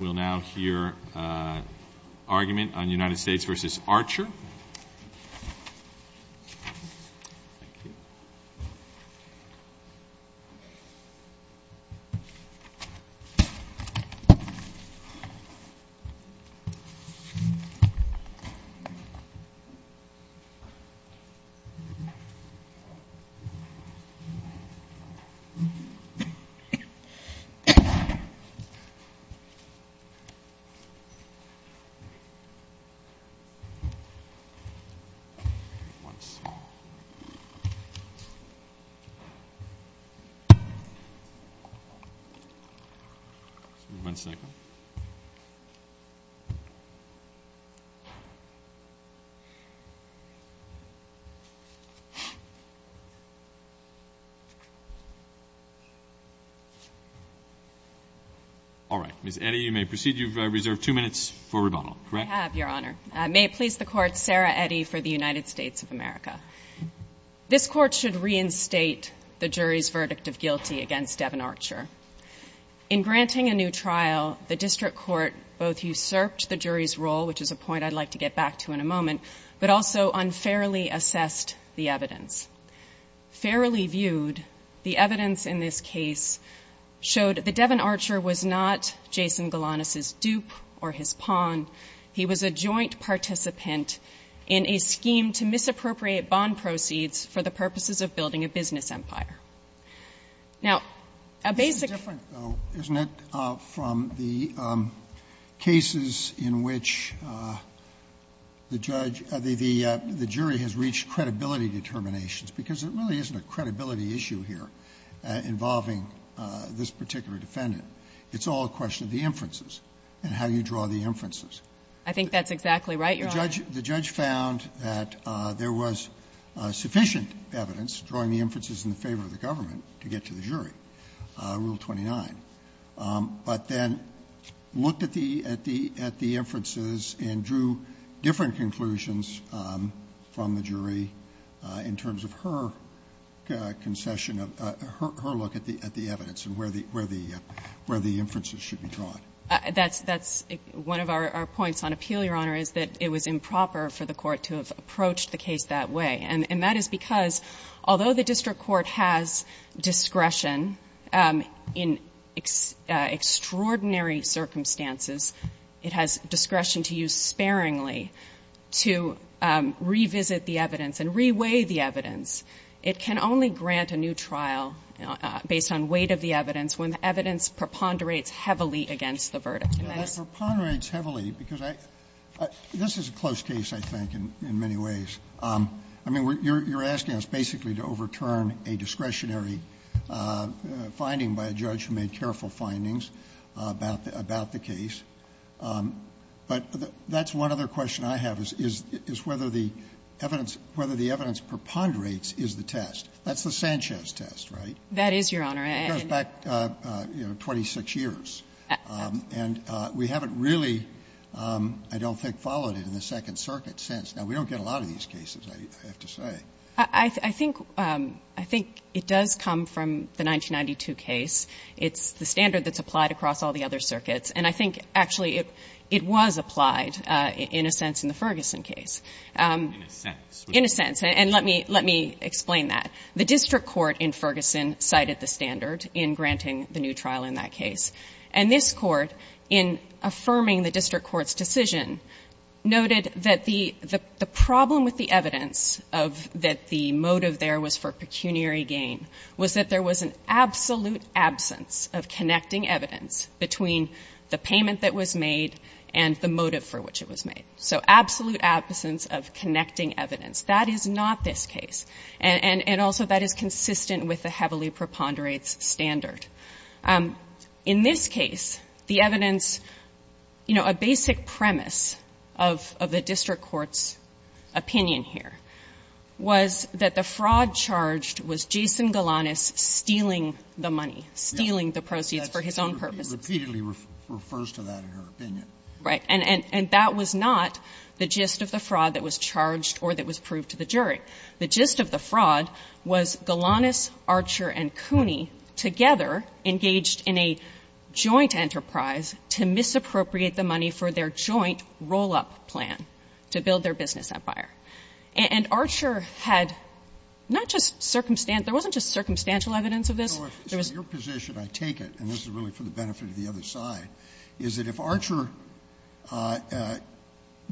We'll now hear argument on United States v. Archer. All right, Ms. Eddie? You may proceed. You've reserved two minutes for rebuttal, correct? I have, Your Honor. May it please the Court, Sarah Eddie for the United States of America. This Court should reinstate the jury's verdict of guilty against Devin Archer. In granting a new trial, the District Court both usurped the jury's role, which is a point I'd like to get back to in a moment, but also unfairly assessed the evidence. Fairly viewed, the evidence in this case showed that Devin Archer was not Jason Galanis's dupe or his pawn. He was a joint participant in a scheme to misappropriate bond proceeds for the purposes of building a business empire. Now, a basic This is different, though, isn't it, from the cases in which the judge or the jury has reached credibility determinations, because there really isn't a credibility issue here involving this particular defendant. It's all a question of the inferences and how you draw the inferences. I think that's exactly right, Your Honor. The judge found that there was sufficient evidence drawing the inferences in the favor of the government to get to the jury, Rule 29. But then looked at the inferences and drew different conclusions from the jury in terms of her concession of her look at the evidence and where the inferences should be drawn. That's one of our points on appeal, Your Honor, is that it was improper for the Court to have approached the case that way. And that is because, although the district court has discretion in extraordinary circumstances, it has discretion to use sparingly to revisit the evidence and re-weigh the evidence, it can only grant a new trial based on weight of the evidence when the evidence preponderates heavily against the verdict. In this case, I think, in many ways, I mean, you're asking us basically to overturn a discretionary finding by a judge who made careful findings about the case. But that's one other question I have, is whether the evidence preponderates is the test. That's the Sanchez test, right? That is, Your Honor. It goes back, you know, 26 years. And we haven't really, I don't think, followed it in the Second Circuit since. Now, we don't get a lot of these cases, I have to say. I think it does come from the 1992 case. It's the standard that's applied across all the other circuits. And I think, actually, it was applied, in a sense, in the Ferguson case. In a sense. In a sense. And let me explain that. The district court in Ferguson cited the standard in granting the new trial in that case. And this court, in affirming the district court's decision, noted that the problem with the evidence of that the motive there was for pecuniary gain was that there was an absolute absence of connecting evidence between the payment that was made and the motive for which it was made. So absolute absence of connecting evidence. That is not this case. And also, that is consistent with the heavily preponderates standard. In this case, the evidence, you know, a basic premise of the district court's opinion here was that the fraud charged was Jason Galanis stealing the money, stealing the proceeds for his own purposes. Scalia. He repeatedly refers to that in her opinion. Right. And that was not the gist of the fraud that was charged or that was proved to the jury. The gist of the fraud was Galanis, Archer, and Cooney together engaged in a joint enterprise to misappropriate the money for their joint roll-up plan to build their business empire. And Archer had not just circumstantial, there wasn't just circumstantial evidence of this. So your position, I take it, and this is really for the benefit of the other side, is that if Archer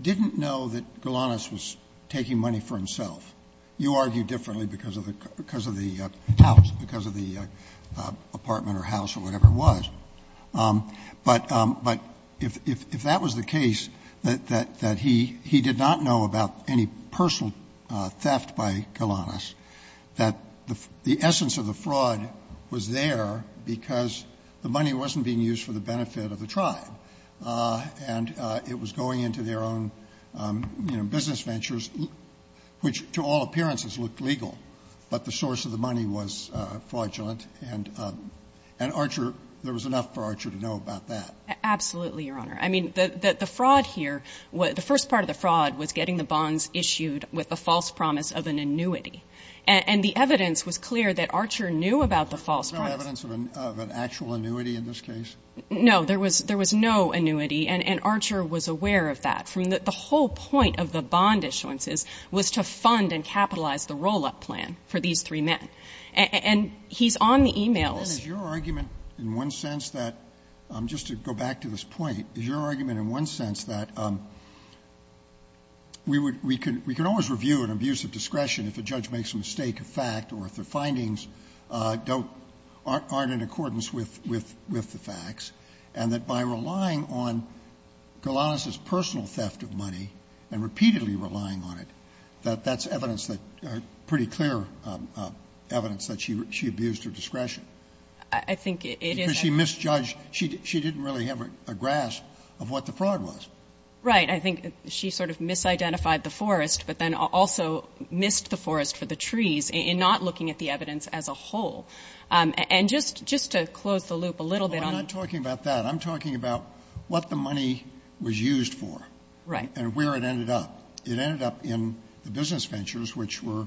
didn't know that Galanis was taking money for himself, you argue differently because of the house, because of the apartment or house or whatever it was. But if that was the case, that he did not know about any personal theft by Galanis, that the essence of the fraud was there because the money wasn't being used for the benefit of the tribe. And it was going into their own business ventures, which to all appearances looked legal, but the source of the money was fraudulent. And Archer, there was enough for Archer to know about that. Absolutely, Your Honor. I mean, the fraud here, the first part of the fraud was getting the bonds issued with a false promise of an annuity. And the evidence was clear that Archer knew about the false promise. There was no evidence of an actual annuity in this case? No. There was no annuity, and Archer was aware of that. From the whole point of the bond issuances was to fund and capitalize the roll-up plan for these three men. And he's on the e-mails. And is your argument in one sense that, just to go back to this point, is your argument in one sense that we can always review an abuse of discretion if a judge makes a mistake of fact or if the findings aren't in accordance with the facts, and that by relying on Golanus' personal theft of money and repeatedly relying on it, that that's evidence that, pretty clear evidence that she abused her discretion? I think it is. Because she misjudged, she didn't really have a grasp of what the fraud was. Right. I think she sort of misidentified the forest, but then also missed the forest for the trees in not looking at the evidence as a whole. And just to close the loop a little bit on... Well, I'm not talking about that. I'm talking about what the money was used for. Right. And where it ended up. It ended up in the business ventures, which were,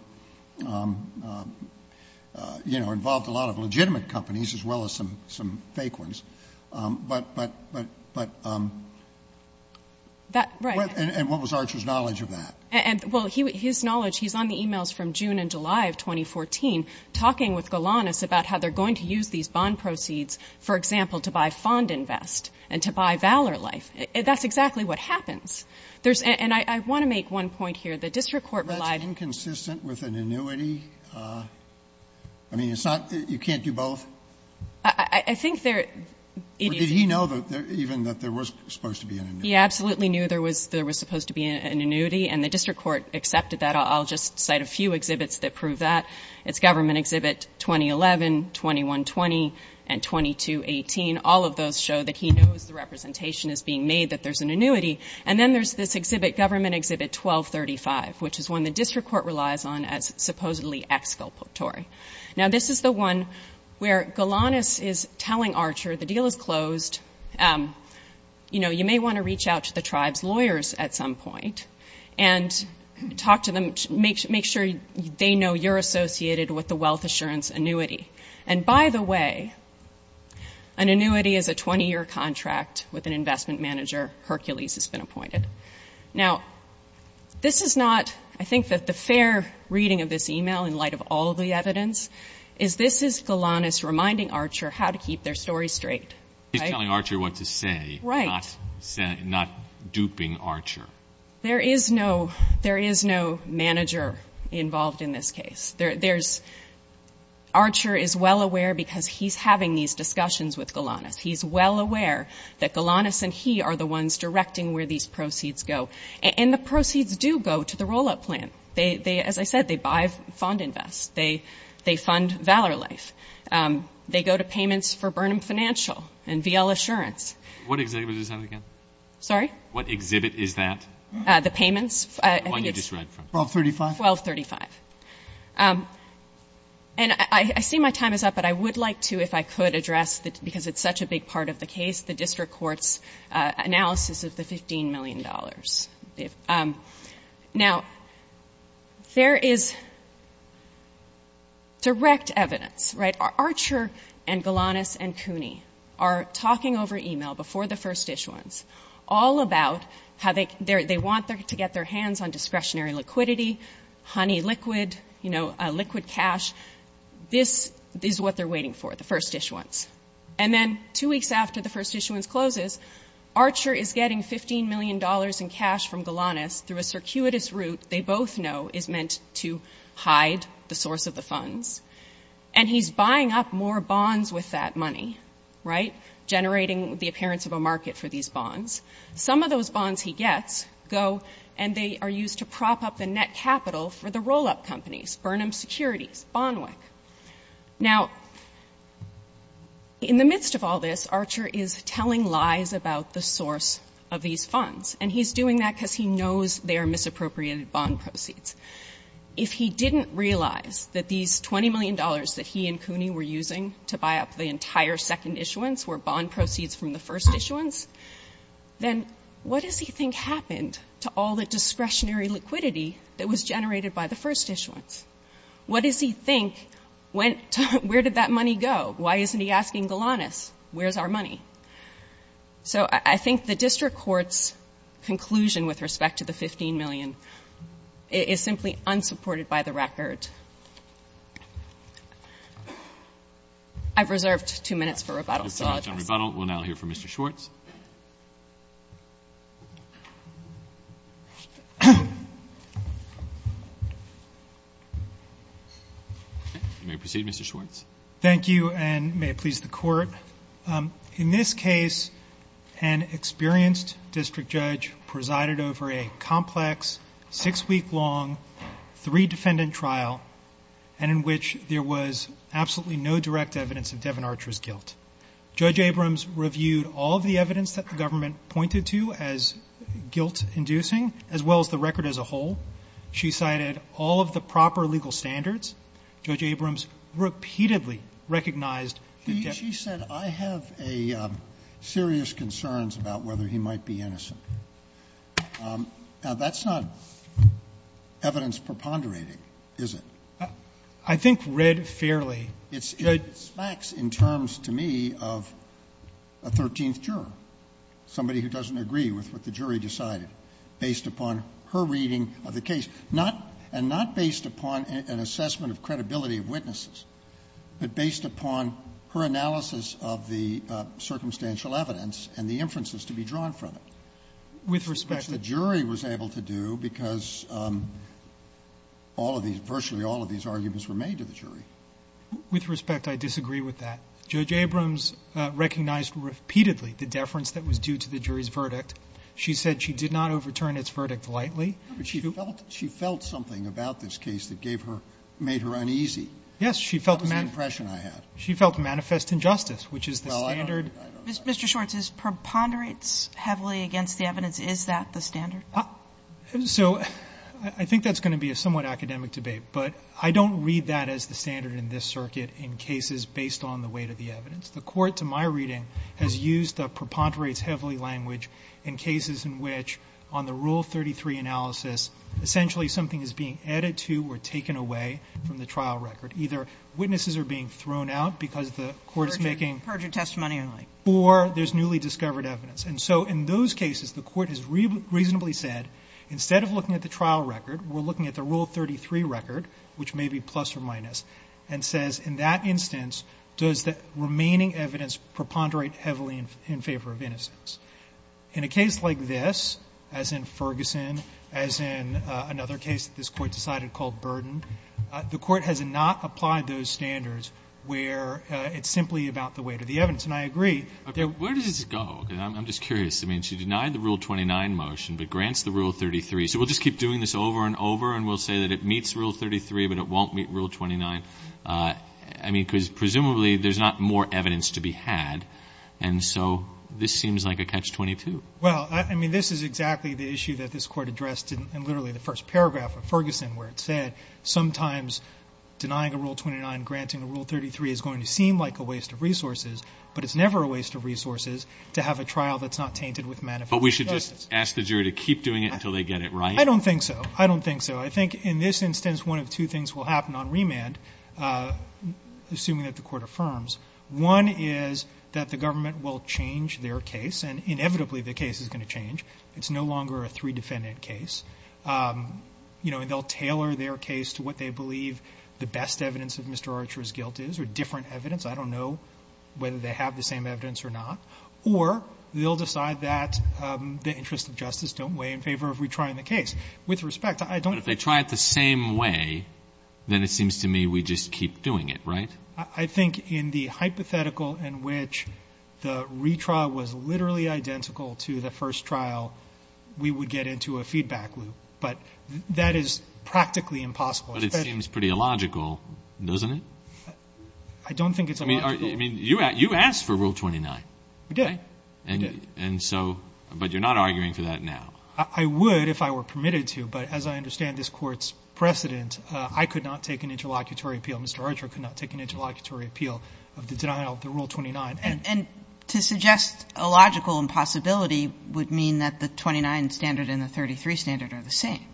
you know, involved a lot of legitimate companies as well as some fake ones. But... That... Right. And what was Archer's knowledge of that? And, well, his knowledge, he's on the e-mails from June and July of 2014, talking with Golanus about how they're going to use these bond proceeds, for example, to buy Fond Invest and to buy Valor Life. That's exactly what happens. There's and I want to make one point here. The district court relied... That's inconsistent with an annuity? I mean, it's not that you can't do both? But did he know even that there was supposed to be an annuity? He absolutely knew there was supposed to be an annuity, and the district court accepted that. I'll just cite a few exhibits that prove that. It's Government Exhibit 2011, 2120, and 2218. All of those show that he knows the representation is being made that there's an annuity. And then there's this exhibit, Government Exhibit 1235, which is one the district court relies on as supposedly exculpatory. Now, this is the one where Golanus is telling Archer the deal is closed. And, you know, you may want to reach out to the tribe's lawyers at some point and talk to them, make sure they know you're associated with the wealth assurance annuity. And by the way, an annuity is a 20-year contract with an investment manager, Hercules has been appointed. Now, this is not, I think, that the fair reading of this email in light of all of the evidence is this is Golanus reminding Archer how to keep their story straight. He's telling Archer what to say, not duping Archer. There is no manager involved in this case. Archer is well aware because he's having these discussions with Golanus. He's well aware that Golanus and he are the ones directing where these proceeds go. And the proceeds do go to the roll-up plan. As I said, they buy Fond Invest. They fund Valor Life. They go to payments for Burnham Financial and VL Assurance. What exhibit is that again? Sorry? What exhibit is that? The payments. The one you just read from. 1235. 1235. And I see my time is up, but I would like to, if I could, address, because it's such a big part of the case, the district court's analysis of the $15 million. Now, there is direct evidence, right? Archer and Golanus and Cooney are talking over email before the First Dish ones all about how they want to get their hands on discretionary liquidity, honey liquid, you know, liquid cash. This is what they're waiting for, the First Dish ones. And then two weeks after the First Dish ones closes, Archer is getting $15 million in cash from Golanus through a circuitous route they both know is meant to hide the source of the funds. And he's buying up more bonds with that money, right? Generating the appearance of a market for these bonds. Some of those bonds he gets go and they are used to prop up the net capital for the roll-up companies, Burnham Securities, Bonwick. Now, in the midst of all this, Archer is telling lies about the source of these funds. And he's doing that because he knows they are misappropriated bond proceeds. If he didn't realize that these $20 million that he and Cooney were using to buy up the entire second issuance were bond proceeds from the First Dish ones, then what does he think happened to all the discretionary liquidity that was generated by the First Dish ones? What does he think went to where did that money go? Why isn't he asking Golanus, where's our money? So I think the district court's conclusion with respect to the $15 million is simply unsupported by the record. I've reserved two minutes for rebuttal. So I'll address that. We'll now hear from Mr. Schwartz. You may proceed, Mr. Schwartz. Thank you, and may it please the court. In this case, an experienced district judge presided over a complex, six-week-long, three-defendant trial, and in which there was absolutely no direct evidence of Devin Archer's guilt. Judge Abrams reviewed all of the evidence that the government pointed to as guilt- inducing, as well as the record as a whole. She cited all of the proper legal standards. Judge Abrams repeatedly recognized that Devin— She said, I have serious concerns about whether he might be innocent. Now, that's not evidence preponderating, is it? I think read fairly. It's facts in terms, to me, of a thirteenth juror, somebody who doesn't agree with what the jury decided based upon her reading of the case, not — and not based upon an assessment of credibility of witnesses, but based upon her analysis of the circumstantial evidence and the inferences to be drawn from it. With respect to the jury was able to do, because all of these — virtually all of these arguments were made to the jury. With respect, I disagree with that. Judge Abrams recognized repeatedly the deference that was due to the jury's verdict. She said she did not overturn its verdict lightly. But she felt — she felt something about this case that gave her — made her uneasy. Yes. She felt — What was the impression I had? She felt manifest injustice, which is the standard — Mr. Schwartz, this preponderates heavily against the evidence. Is that the standard? So I think that's going to be a somewhat academic debate, but I don't read that as the standard in this circuit in cases based on the weight of the evidence. The Court, to my reading, has used the preponderates heavily language in cases in which, on the Rule 33 analysis, essentially something is being added to or taken away from the trial record. Either witnesses are being thrown out because the Court is making — Perjured testimony only. Or there's newly discovered evidence. And so in those cases, the Court has reasonably said, instead of looking at the trial record, we're looking at the Rule 33 record, which may be plus or minus, and says, in that instance, does the remaining evidence preponderate heavily in favor of innocence? In a case like this, as in Ferguson, as in another case that this Court decided called Burden, the Court has not applied those standards where it's simply about the weight of the evidence. And I agree that — Where does this go? I'm just curious. I mean, she denied the Rule 29 motion but grants the Rule 33. So we'll just keep doing this over and over, and we'll say that it meets Rule 33 but it won't meet Rule 29. I mean, because presumably there's not more evidence to be had. And so this seems like a catch-22. Well, I mean, this is exactly the issue that this Court addressed in literally the first paragraph of Ferguson, where it said sometimes denying a Rule 29, granting a Rule 33 is going to seem like a waste of resources, but it's never a waste of resources to have a trial that's not tainted with manifest injustice. But we should just ask the jury to keep doing it until they get it right? I don't think so. I don't think so. I think in this instance, one of two things will happen on remand, assuming that the Court affirms. One is that the government will change their case, and inevitably the case is going to change. It's no longer a three-defendant case. You know, and they'll tailor their case to what they believe the best evidence of Mr. Archer's guilt is, or different evidence. I don't know whether they have the same evidence or not. Or they'll decide that the interests of justice don't weigh in favor of retrying the case. With respect, I don't think- But if they try it the same way, then it seems to me we just keep doing it, right? I think in the hypothetical in which the retrial was literally identical to the first trial, we would get into a feedback loop. But that is practically impossible. But it seems pretty illogical, doesn't it? I don't think it's illogical. I mean, you asked for Rule 29. We did. And so, but you're not arguing for that now. I would if I were permitted to. But as I understand this Court's precedent, I could not take an interlocutory appeal. Mr. Archer could not take an interlocutory appeal of the denial of the Rule 29. And to suggest a logical impossibility would mean that the 29 standard and the 33 standard are the same.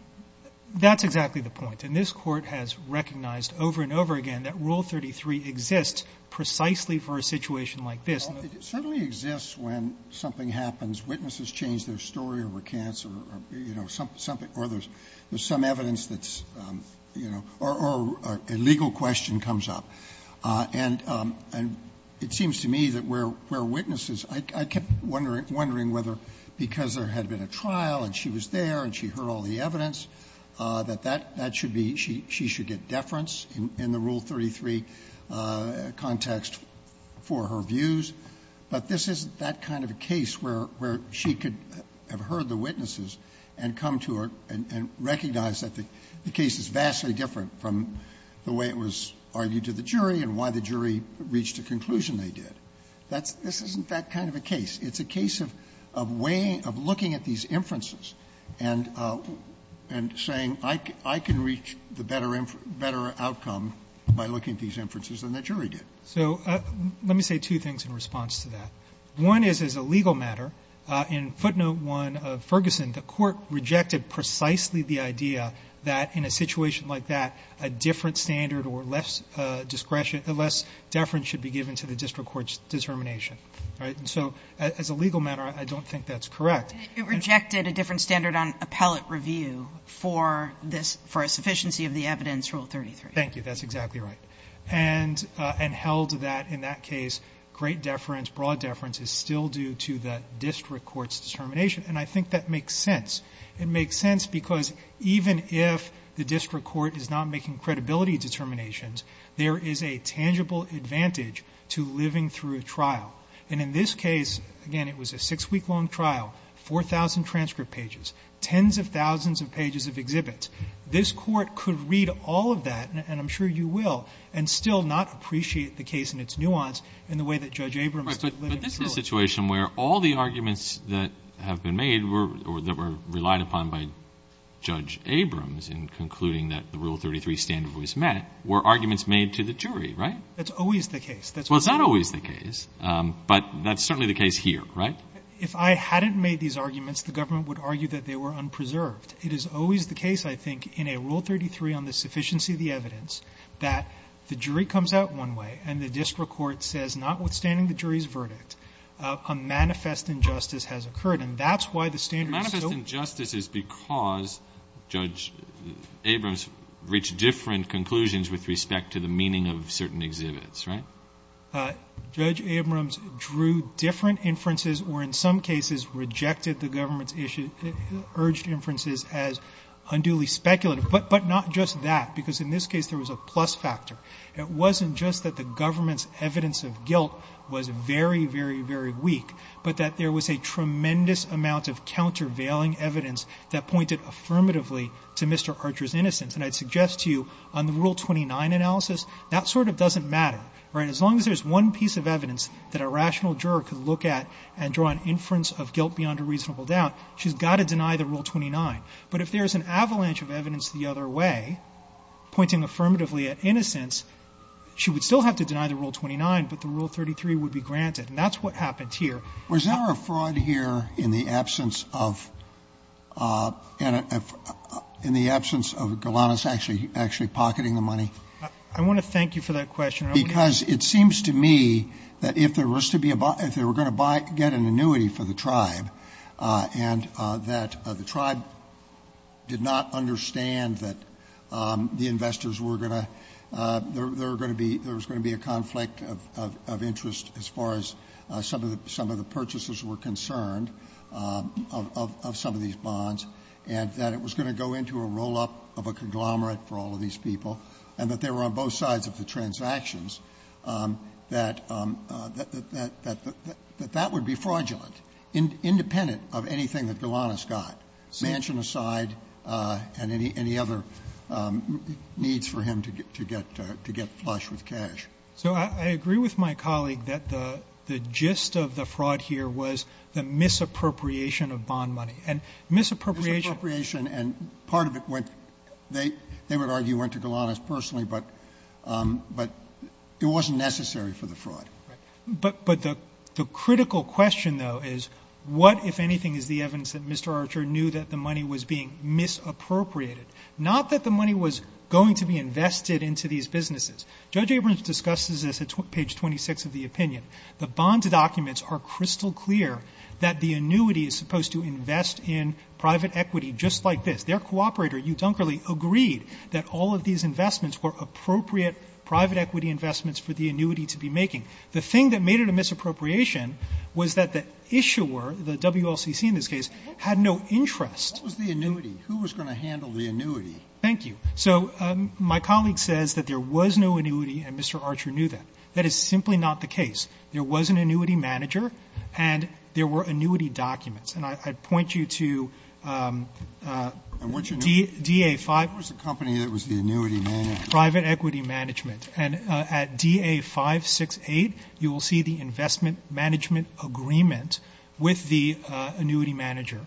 That's exactly the point. And this Court has recognized over and over again that Rule 33 exists precisely for a situation like this. It certainly exists when something happens, witnesses change their story or recants or, you know, something or there's some evidence that's, you know, or a legal question comes up. And it seems to me that where witnesses, I kept wondering whether because there had been a trial and she was there and she heard all the evidence, that that should be, she should get deference in the Rule 33 context for her views. But this isn't that kind of a case where she could have heard the witnesses and come to her and recognize that the case is vastly different from the way it was argued to the jury and why the jury reached a conclusion they did. That's, this isn't that kind of a case. It's a case of weighing, of looking at these inferences and saying I can reach the better outcome by looking at these inferences than the jury did. So let me say two things in response to that. One is as a legal matter, in footnote one of Ferguson, the court rejected precisely the idea that in a situation like that a different standard or less deference should be given to the district court's determination. All right, and so as a legal matter, I don't think that's correct. It rejected a different standard on appellate review for a sufficiency of the evidence Rule 33. Thank you, that's exactly right. And held that in that case, great deference, broad deference is still due to the district court's determination. And I think that makes sense. It makes sense because even if the district court is not making credibility determinations, there is a tangible advantage to living through a trial. And in this case, again, it was a six week long trial, 4,000 transcript pages, tens of thousands of pages of exhibits. This court could read all of that, and I'm sure you will, and still not appreciate the case and its nuance in the way that Judge Abrams lived through it. But this is a situation where all the arguments that have been made or that were relied upon by Judge Abrams in concluding that the Rule 33 standard was met were arguments made to the jury, right? That's always the case. Well, it's not always the case, but that's certainly the case here, right? If I hadn't made these arguments, the government would argue that they were unpreserved. It is always the case, I think, in a Rule 33 on the sufficiency of the evidence, that the jury comes out one way and the district court says, notwithstanding the jury's verdict, a manifest injustice has occurred. And that's why the standard is so- The manifest injustice is because Judge Abrams reached different conclusions with respect to the meaning of certain exhibits, right? Judge Abrams drew different inferences or in some cases rejected the government's issue, urged inferences as unduly speculative. But not just that, because in this case there was a plus factor. It wasn't just that the government's evidence of guilt was very, very, very weak, but that there was a tremendous amount of countervailing evidence that pointed affirmatively to Mr. Archer's innocence. And I'd suggest to you on the Rule 29 analysis, that sort of doesn't matter, right? As long as there's one piece of evidence that a rational juror could look at and draw an inference of guilt beyond a reasonable doubt, she's got to deny the Rule 29. But if there's an avalanche of evidence the other way, pointing affirmatively at innocence, she would still have to deny the Rule 29, but the Rule 33 would be granted, and that's what happened here. Was there a fraud here in the absence of, in the absence of Golanus actually pocketing the money? I want to thank you for that question. Because it seems to me that if there was to be a, if they were going to buy, get an annuity for the tribe, and that the tribe did not understand that the investors were going to, there was going to be a conflict of interest as far as some of the purchases were concerned of some of these bonds. And that it was going to go into a roll up of a conglomerate for all of these people. And that they were on both sides of the transactions, that that would be fraudulent. Independent of anything that Golanus got. Mansion aside, and any other needs for him to get flush with cash. So I agree with my colleague that the gist of the fraud here was the misappropriation of bond money. And misappropriation- Misappropriation and part of it went, they would argue went to Golanus personally, but it wasn't necessary for the fraud. But the critical question though is what, if anything, is the evidence that Mr. Archer knew that the money was being misappropriated? Not that the money was going to be invested into these businesses. Judge Abrams discusses this at page 26 of the opinion. The bonds documents are crystal clear that the annuity is supposed to invest in private equity just like this. Their cooperator, Hugh Dunkerley, agreed that all of these investments were appropriate private equity investments for the annuity to be making. The thing that made it a misappropriation was that the issuer, the WLCC in this case, had no interest. What was the annuity? Who was going to handle the annuity? Thank you. So my colleague says that there was no annuity and Mr. Archer knew that. That is simply not the case. There was an annuity manager and there were annuity documents. And I'd point you to DA 5- What was the company that was the annuity manager? Private Equity Management. And at DA 568, you will see the investment management agreement with the annuity manager.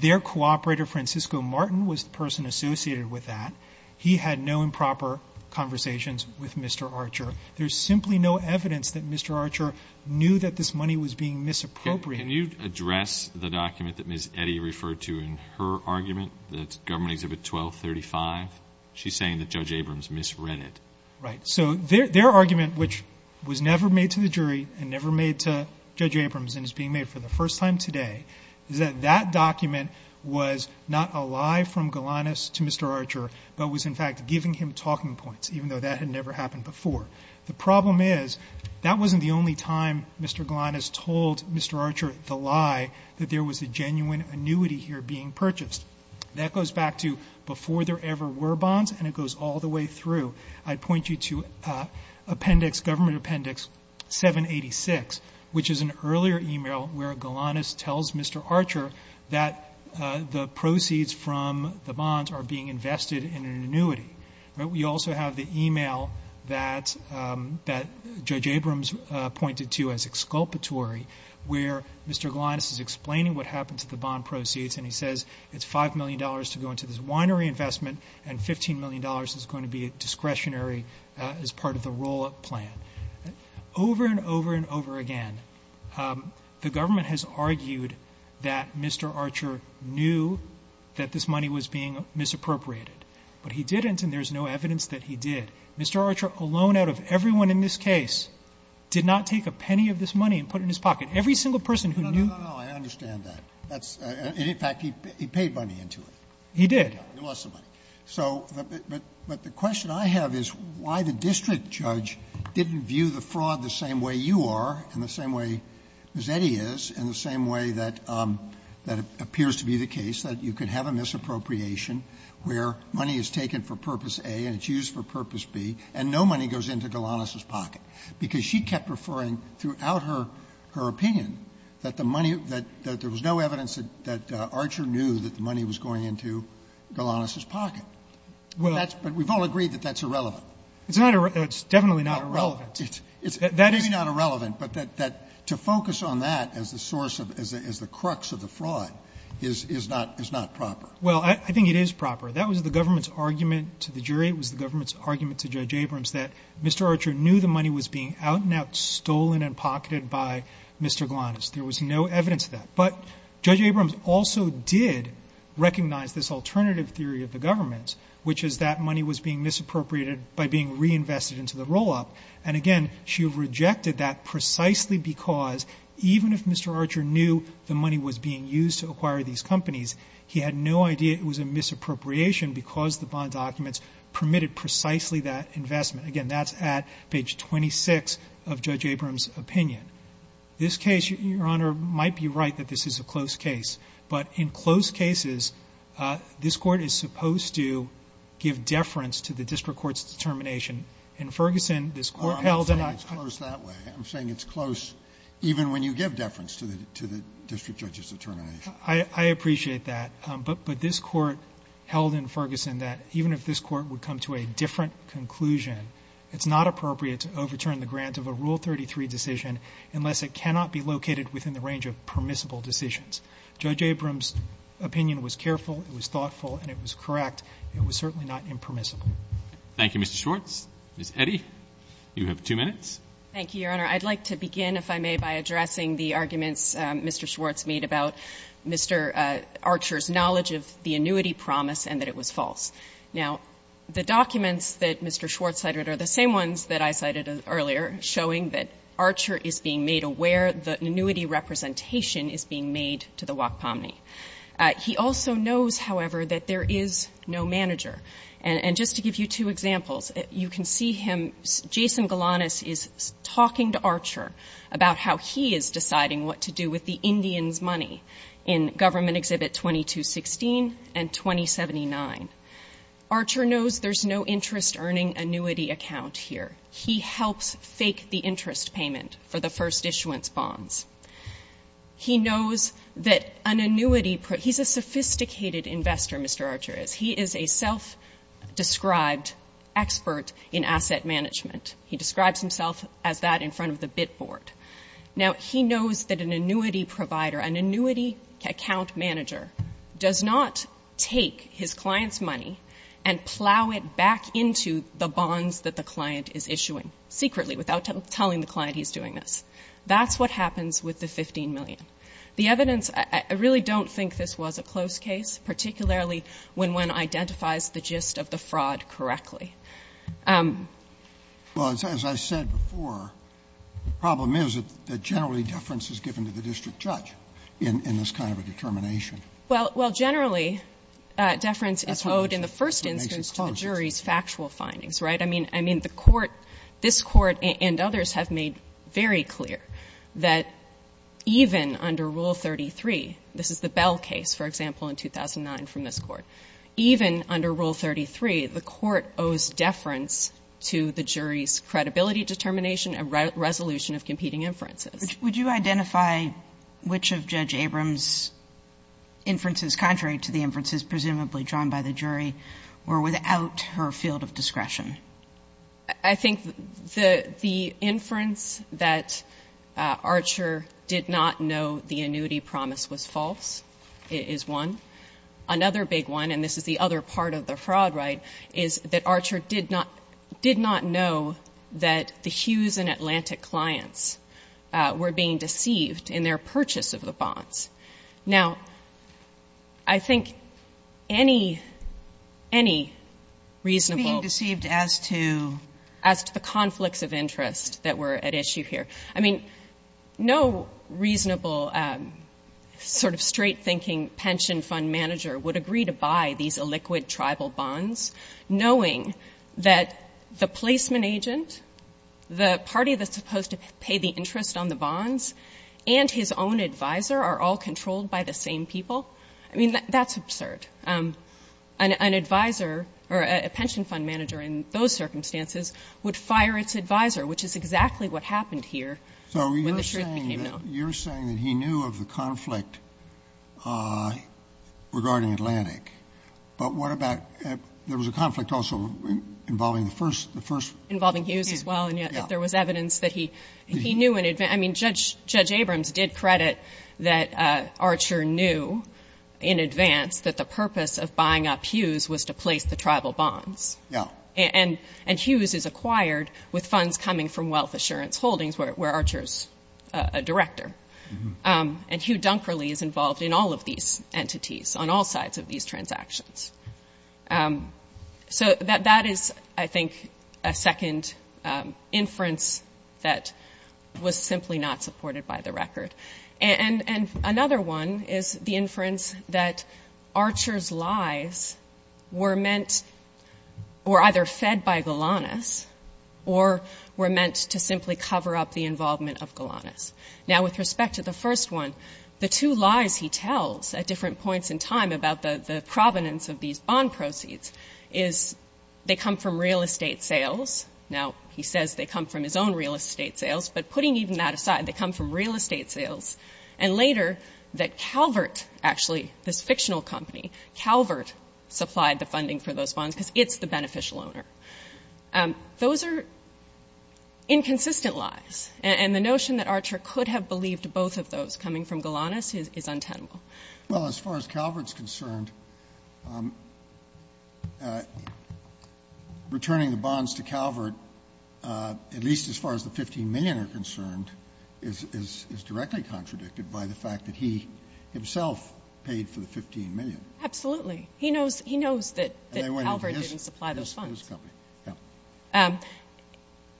Their cooperator, Francisco Martin, was the person associated with that. He had no improper conversations with Mr. Archer. There's simply no evidence that Mr. Archer knew that this money was being misappropriated. Can you address the document that Ms. Eddy referred to in her argument, that's government exhibit 1235? She's saying that Judge Abrams misread it. Right. So their argument, which was never made to the jury and never made to Judge Abrams and is being made for the first time today, is that that document was not a lie from Galanis to Mr. Archer but was in fact giving him talking points, even though that had never happened before. The problem is that wasn't the only time Mr. Galanis told Mr. Archer the lie, that there was a genuine annuity here being purchased. That goes back to before there ever were bonds and it goes all the way through. I'd point you to appendix, government appendix 786, which is an earlier email where Galanis tells Mr. Archer that the proceeds from the bonds are being invested in an annuity. We also have the email that Judge Abrams pointed to as exculpatory, where Mr. Galanis is explaining what happened to the bond proceeds and he says, it's $5 million to go into this winery investment and $15 million is going to be discretionary as part of the roll-up plan. Over and over and over again, the government has argued that Mr. Archer knew that this money was being misappropriated. But he didn't and there's no evidence that he did. Mr. Archer alone out of everyone in this case did not take a penny of this money and put it in his pocket. Every single person who knew- No, no, no, I understand that. That's, in fact, he paid money into it. He did. He lost some money. So, but the question I have is why the district judge didn't view the fraud the same way you are and the same way as Eddie is and the same way that appears to be the case, that you could have a misappropriation where money is taken for Purpose A and it's used for Purpose B and no money goes into Galanis' pocket. Because she kept referring throughout her opinion that the money, that there was no evidence that Archer knew that the money was going into Galanis' pocket. But that's, but we've all agreed that that's irrelevant. It's not, it's definitely not irrelevant. It's maybe not irrelevant, but that to focus on that as the source of, as the crux of the fraud is not proper. Well, I think it is proper. That was the government's argument to the jury. It was the government's argument to Judge Abrams that Mr. Archer knew the money was being out and out stolen and pocketed by Mr. Galanis. There was no evidence of that. But Judge Abrams also did recognize this alternative theory of the government, which is that money was being misappropriated by being reinvested into the roll-up. And again, she rejected that precisely because even if Mr. Archer knew the money was being used to acquire these companies, he had no idea it was a misappropriation because the bond documents permitted precisely that investment. Again, that's at page 26 of Judge Abrams' opinion. This case, Your Honor, might be right that this is a close case. But in close cases, this Court is supposed to give deference to the district court's determination. In Ferguson, this Court held that I'm saying it's close even when you give deference to the district judge's determination. I appreciate that, but this court held in Ferguson that even if this court would come to a different conclusion, it's not appropriate to overturn the grant of a Rule 33 decision unless it cannot be located within the range of permissible decisions. Judge Abrams' opinion was careful, it was thoughtful, and it was correct. It was certainly not impermissible. Thank you, Mr. Schwartz. Ms. Eddy, you have two minutes. Thank you, Your Honor. I'd like to begin, if I may, by addressing the arguments Mr. Schwartz made about Mr. Archer's knowledge of the annuity promise and that it was false. Now, the documents that Mr. Schwartz cited are the same ones that I cited earlier, showing that Archer is being made aware that an annuity representation is being made to the WAC POMNY. He also knows, however, that there is no manager. And just to give you two examples, you can see him, Jason Galanis is talking to Archer about how he is deciding what to do with the Indians' money in Government Exhibit 2216 and 2079. Archer knows there's no interest-earning annuity account here. He helps fake the interest payment for the first issuance bonds. He knows that an annuity – he's a sophisticated investor, Mr. Archer is. He is a self-described expert in asset management. He describes himself as that in front of the bid board. Now, he knows that an annuity provider, an annuity account manager, does not take his client's money and plow it back into the bonds that the client is issuing, secretly, without telling the client he's doing this. That's what happens with the $15 million. The evidence – I really don't think this was a close case, particularly when one identifies the gist of the fraud correctly. Well, as I said before, the problem is that generally deference is given to the district judge in this kind of a determination. Well, generally, deference is owed in the first instance to the jury's factual findings, right? I mean, the Court – this Court and others have made very clear that even under Rule 33 – this is the Bell case, for example, in 2009 from this Court – even under Rule 33, the Court owes deference to the jury's credibility determination and resolution of competing inferences. Would you identify which of Judge Abrams' inferences, contrary to the inferences presumably drawn by the jury, were without her field of discretion? I think the inference that Archer did not know the annuity promise was false is one. Another big one, and this is the other part of the fraud right, is that Archer did not know that the Hughes and Atlantic clients were being deceived in their purchase of the bonds. Now, I think any reasonable – Being deceived as to – As to the conflicts of interest that were at issue here. I mean, no reasonable sort of straight-thinking pension fund manager would agree to buy these illiquid tribal bonds knowing that the placement agent, the party that's supposed to pay the interest on the bonds, and his own advisor are all controlled by the same people. I mean, that's absurd. An advisor, or a pension fund manager in those circumstances, would fire its advisor, which is exactly what happened here when the truth became known. So you're saying that he knew of the conflict regarding Atlantic, but what about – there was a conflict also involving the first – Involving Hughes as well, and yet there was evidence that he knew in advance – I mean, Judge Abrams did credit that Archer knew in advance that the purpose of buying up Hughes was to place the tribal bonds. Yeah. And Hughes is acquired with funds coming from Wealth Assurance Holdings, where Archer's a director. And Hugh Dunkerley is involved in all of these entities, on all sides of these transactions. So that is, I think, a second inference that was simply not supported by the record. And another one is the inference that Archer's lies were meant – were either fed by Golanus, or were meant to simply cover up the involvement of Golanus. Now, with respect to the first one, the two lies he tells at different points in time about the provenance of these bond proceeds is they come from real estate sales. Now, he says they come from his own real estate sales, but putting even that aside, they come from real estate sales. And later, that Calvert – actually, this fictional company – Calvert supplied the funding for those bonds because it's the beneficial owner. Those are inconsistent lies, and the notion that Archer could have believed both of those coming from Golanus is untenable. Well, as far as Calvert's concerned, returning the bonds to Calvert, at least as far as the $15 million are concerned, is directly contradicted by the fact that he himself paid for the $15 million. Absolutely. He knows that Calvert didn't supply those funds.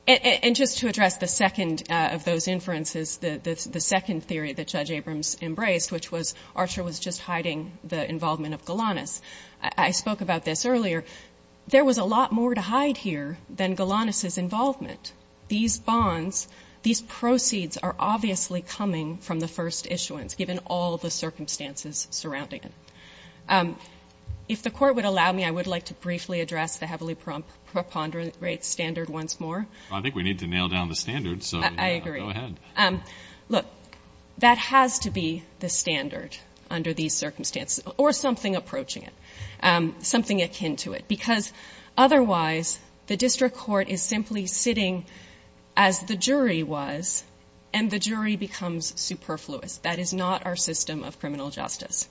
And just to address the second of those inferences, the second theory that Judge Abrams embraced, which was Archer was just hiding the involvement of Golanus – I spoke about this earlier – there was a lot more to hide here than Golanus's involvement. These bonds, these proceeds are obviously coming from the first issuance, given all the circumstances surrounding it. If the Court would allow me, I would like to briefly address the heavily preponderate standard once more. Well, I think we need to nail down the standard, so go ahead. I agree. Look, that has to be the standard under these circumstances, or something approaching it, something akin to it, because otherwise the district court is simply sitting as the jury was and the jury becomes superfluous. That is not our system of criminal justice.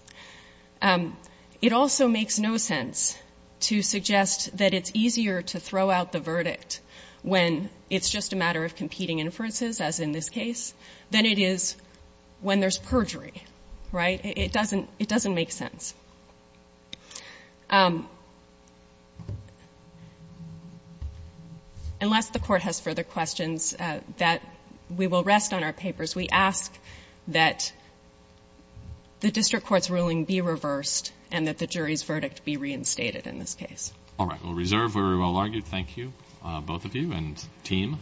It also makes no sense to suggest that it's easier to throw out the verdict when it's just a matter of competing inferences, as in this case, than it is when there's perjury, right? It doesn't make sense. Unless the Court has further questions, we will rest on our papers. We ask that the district court's ruling be reversed and that the jury's verdict be reinstated in this case. All right. Well, reserved, very well argued. Thank you. Both of you, and team.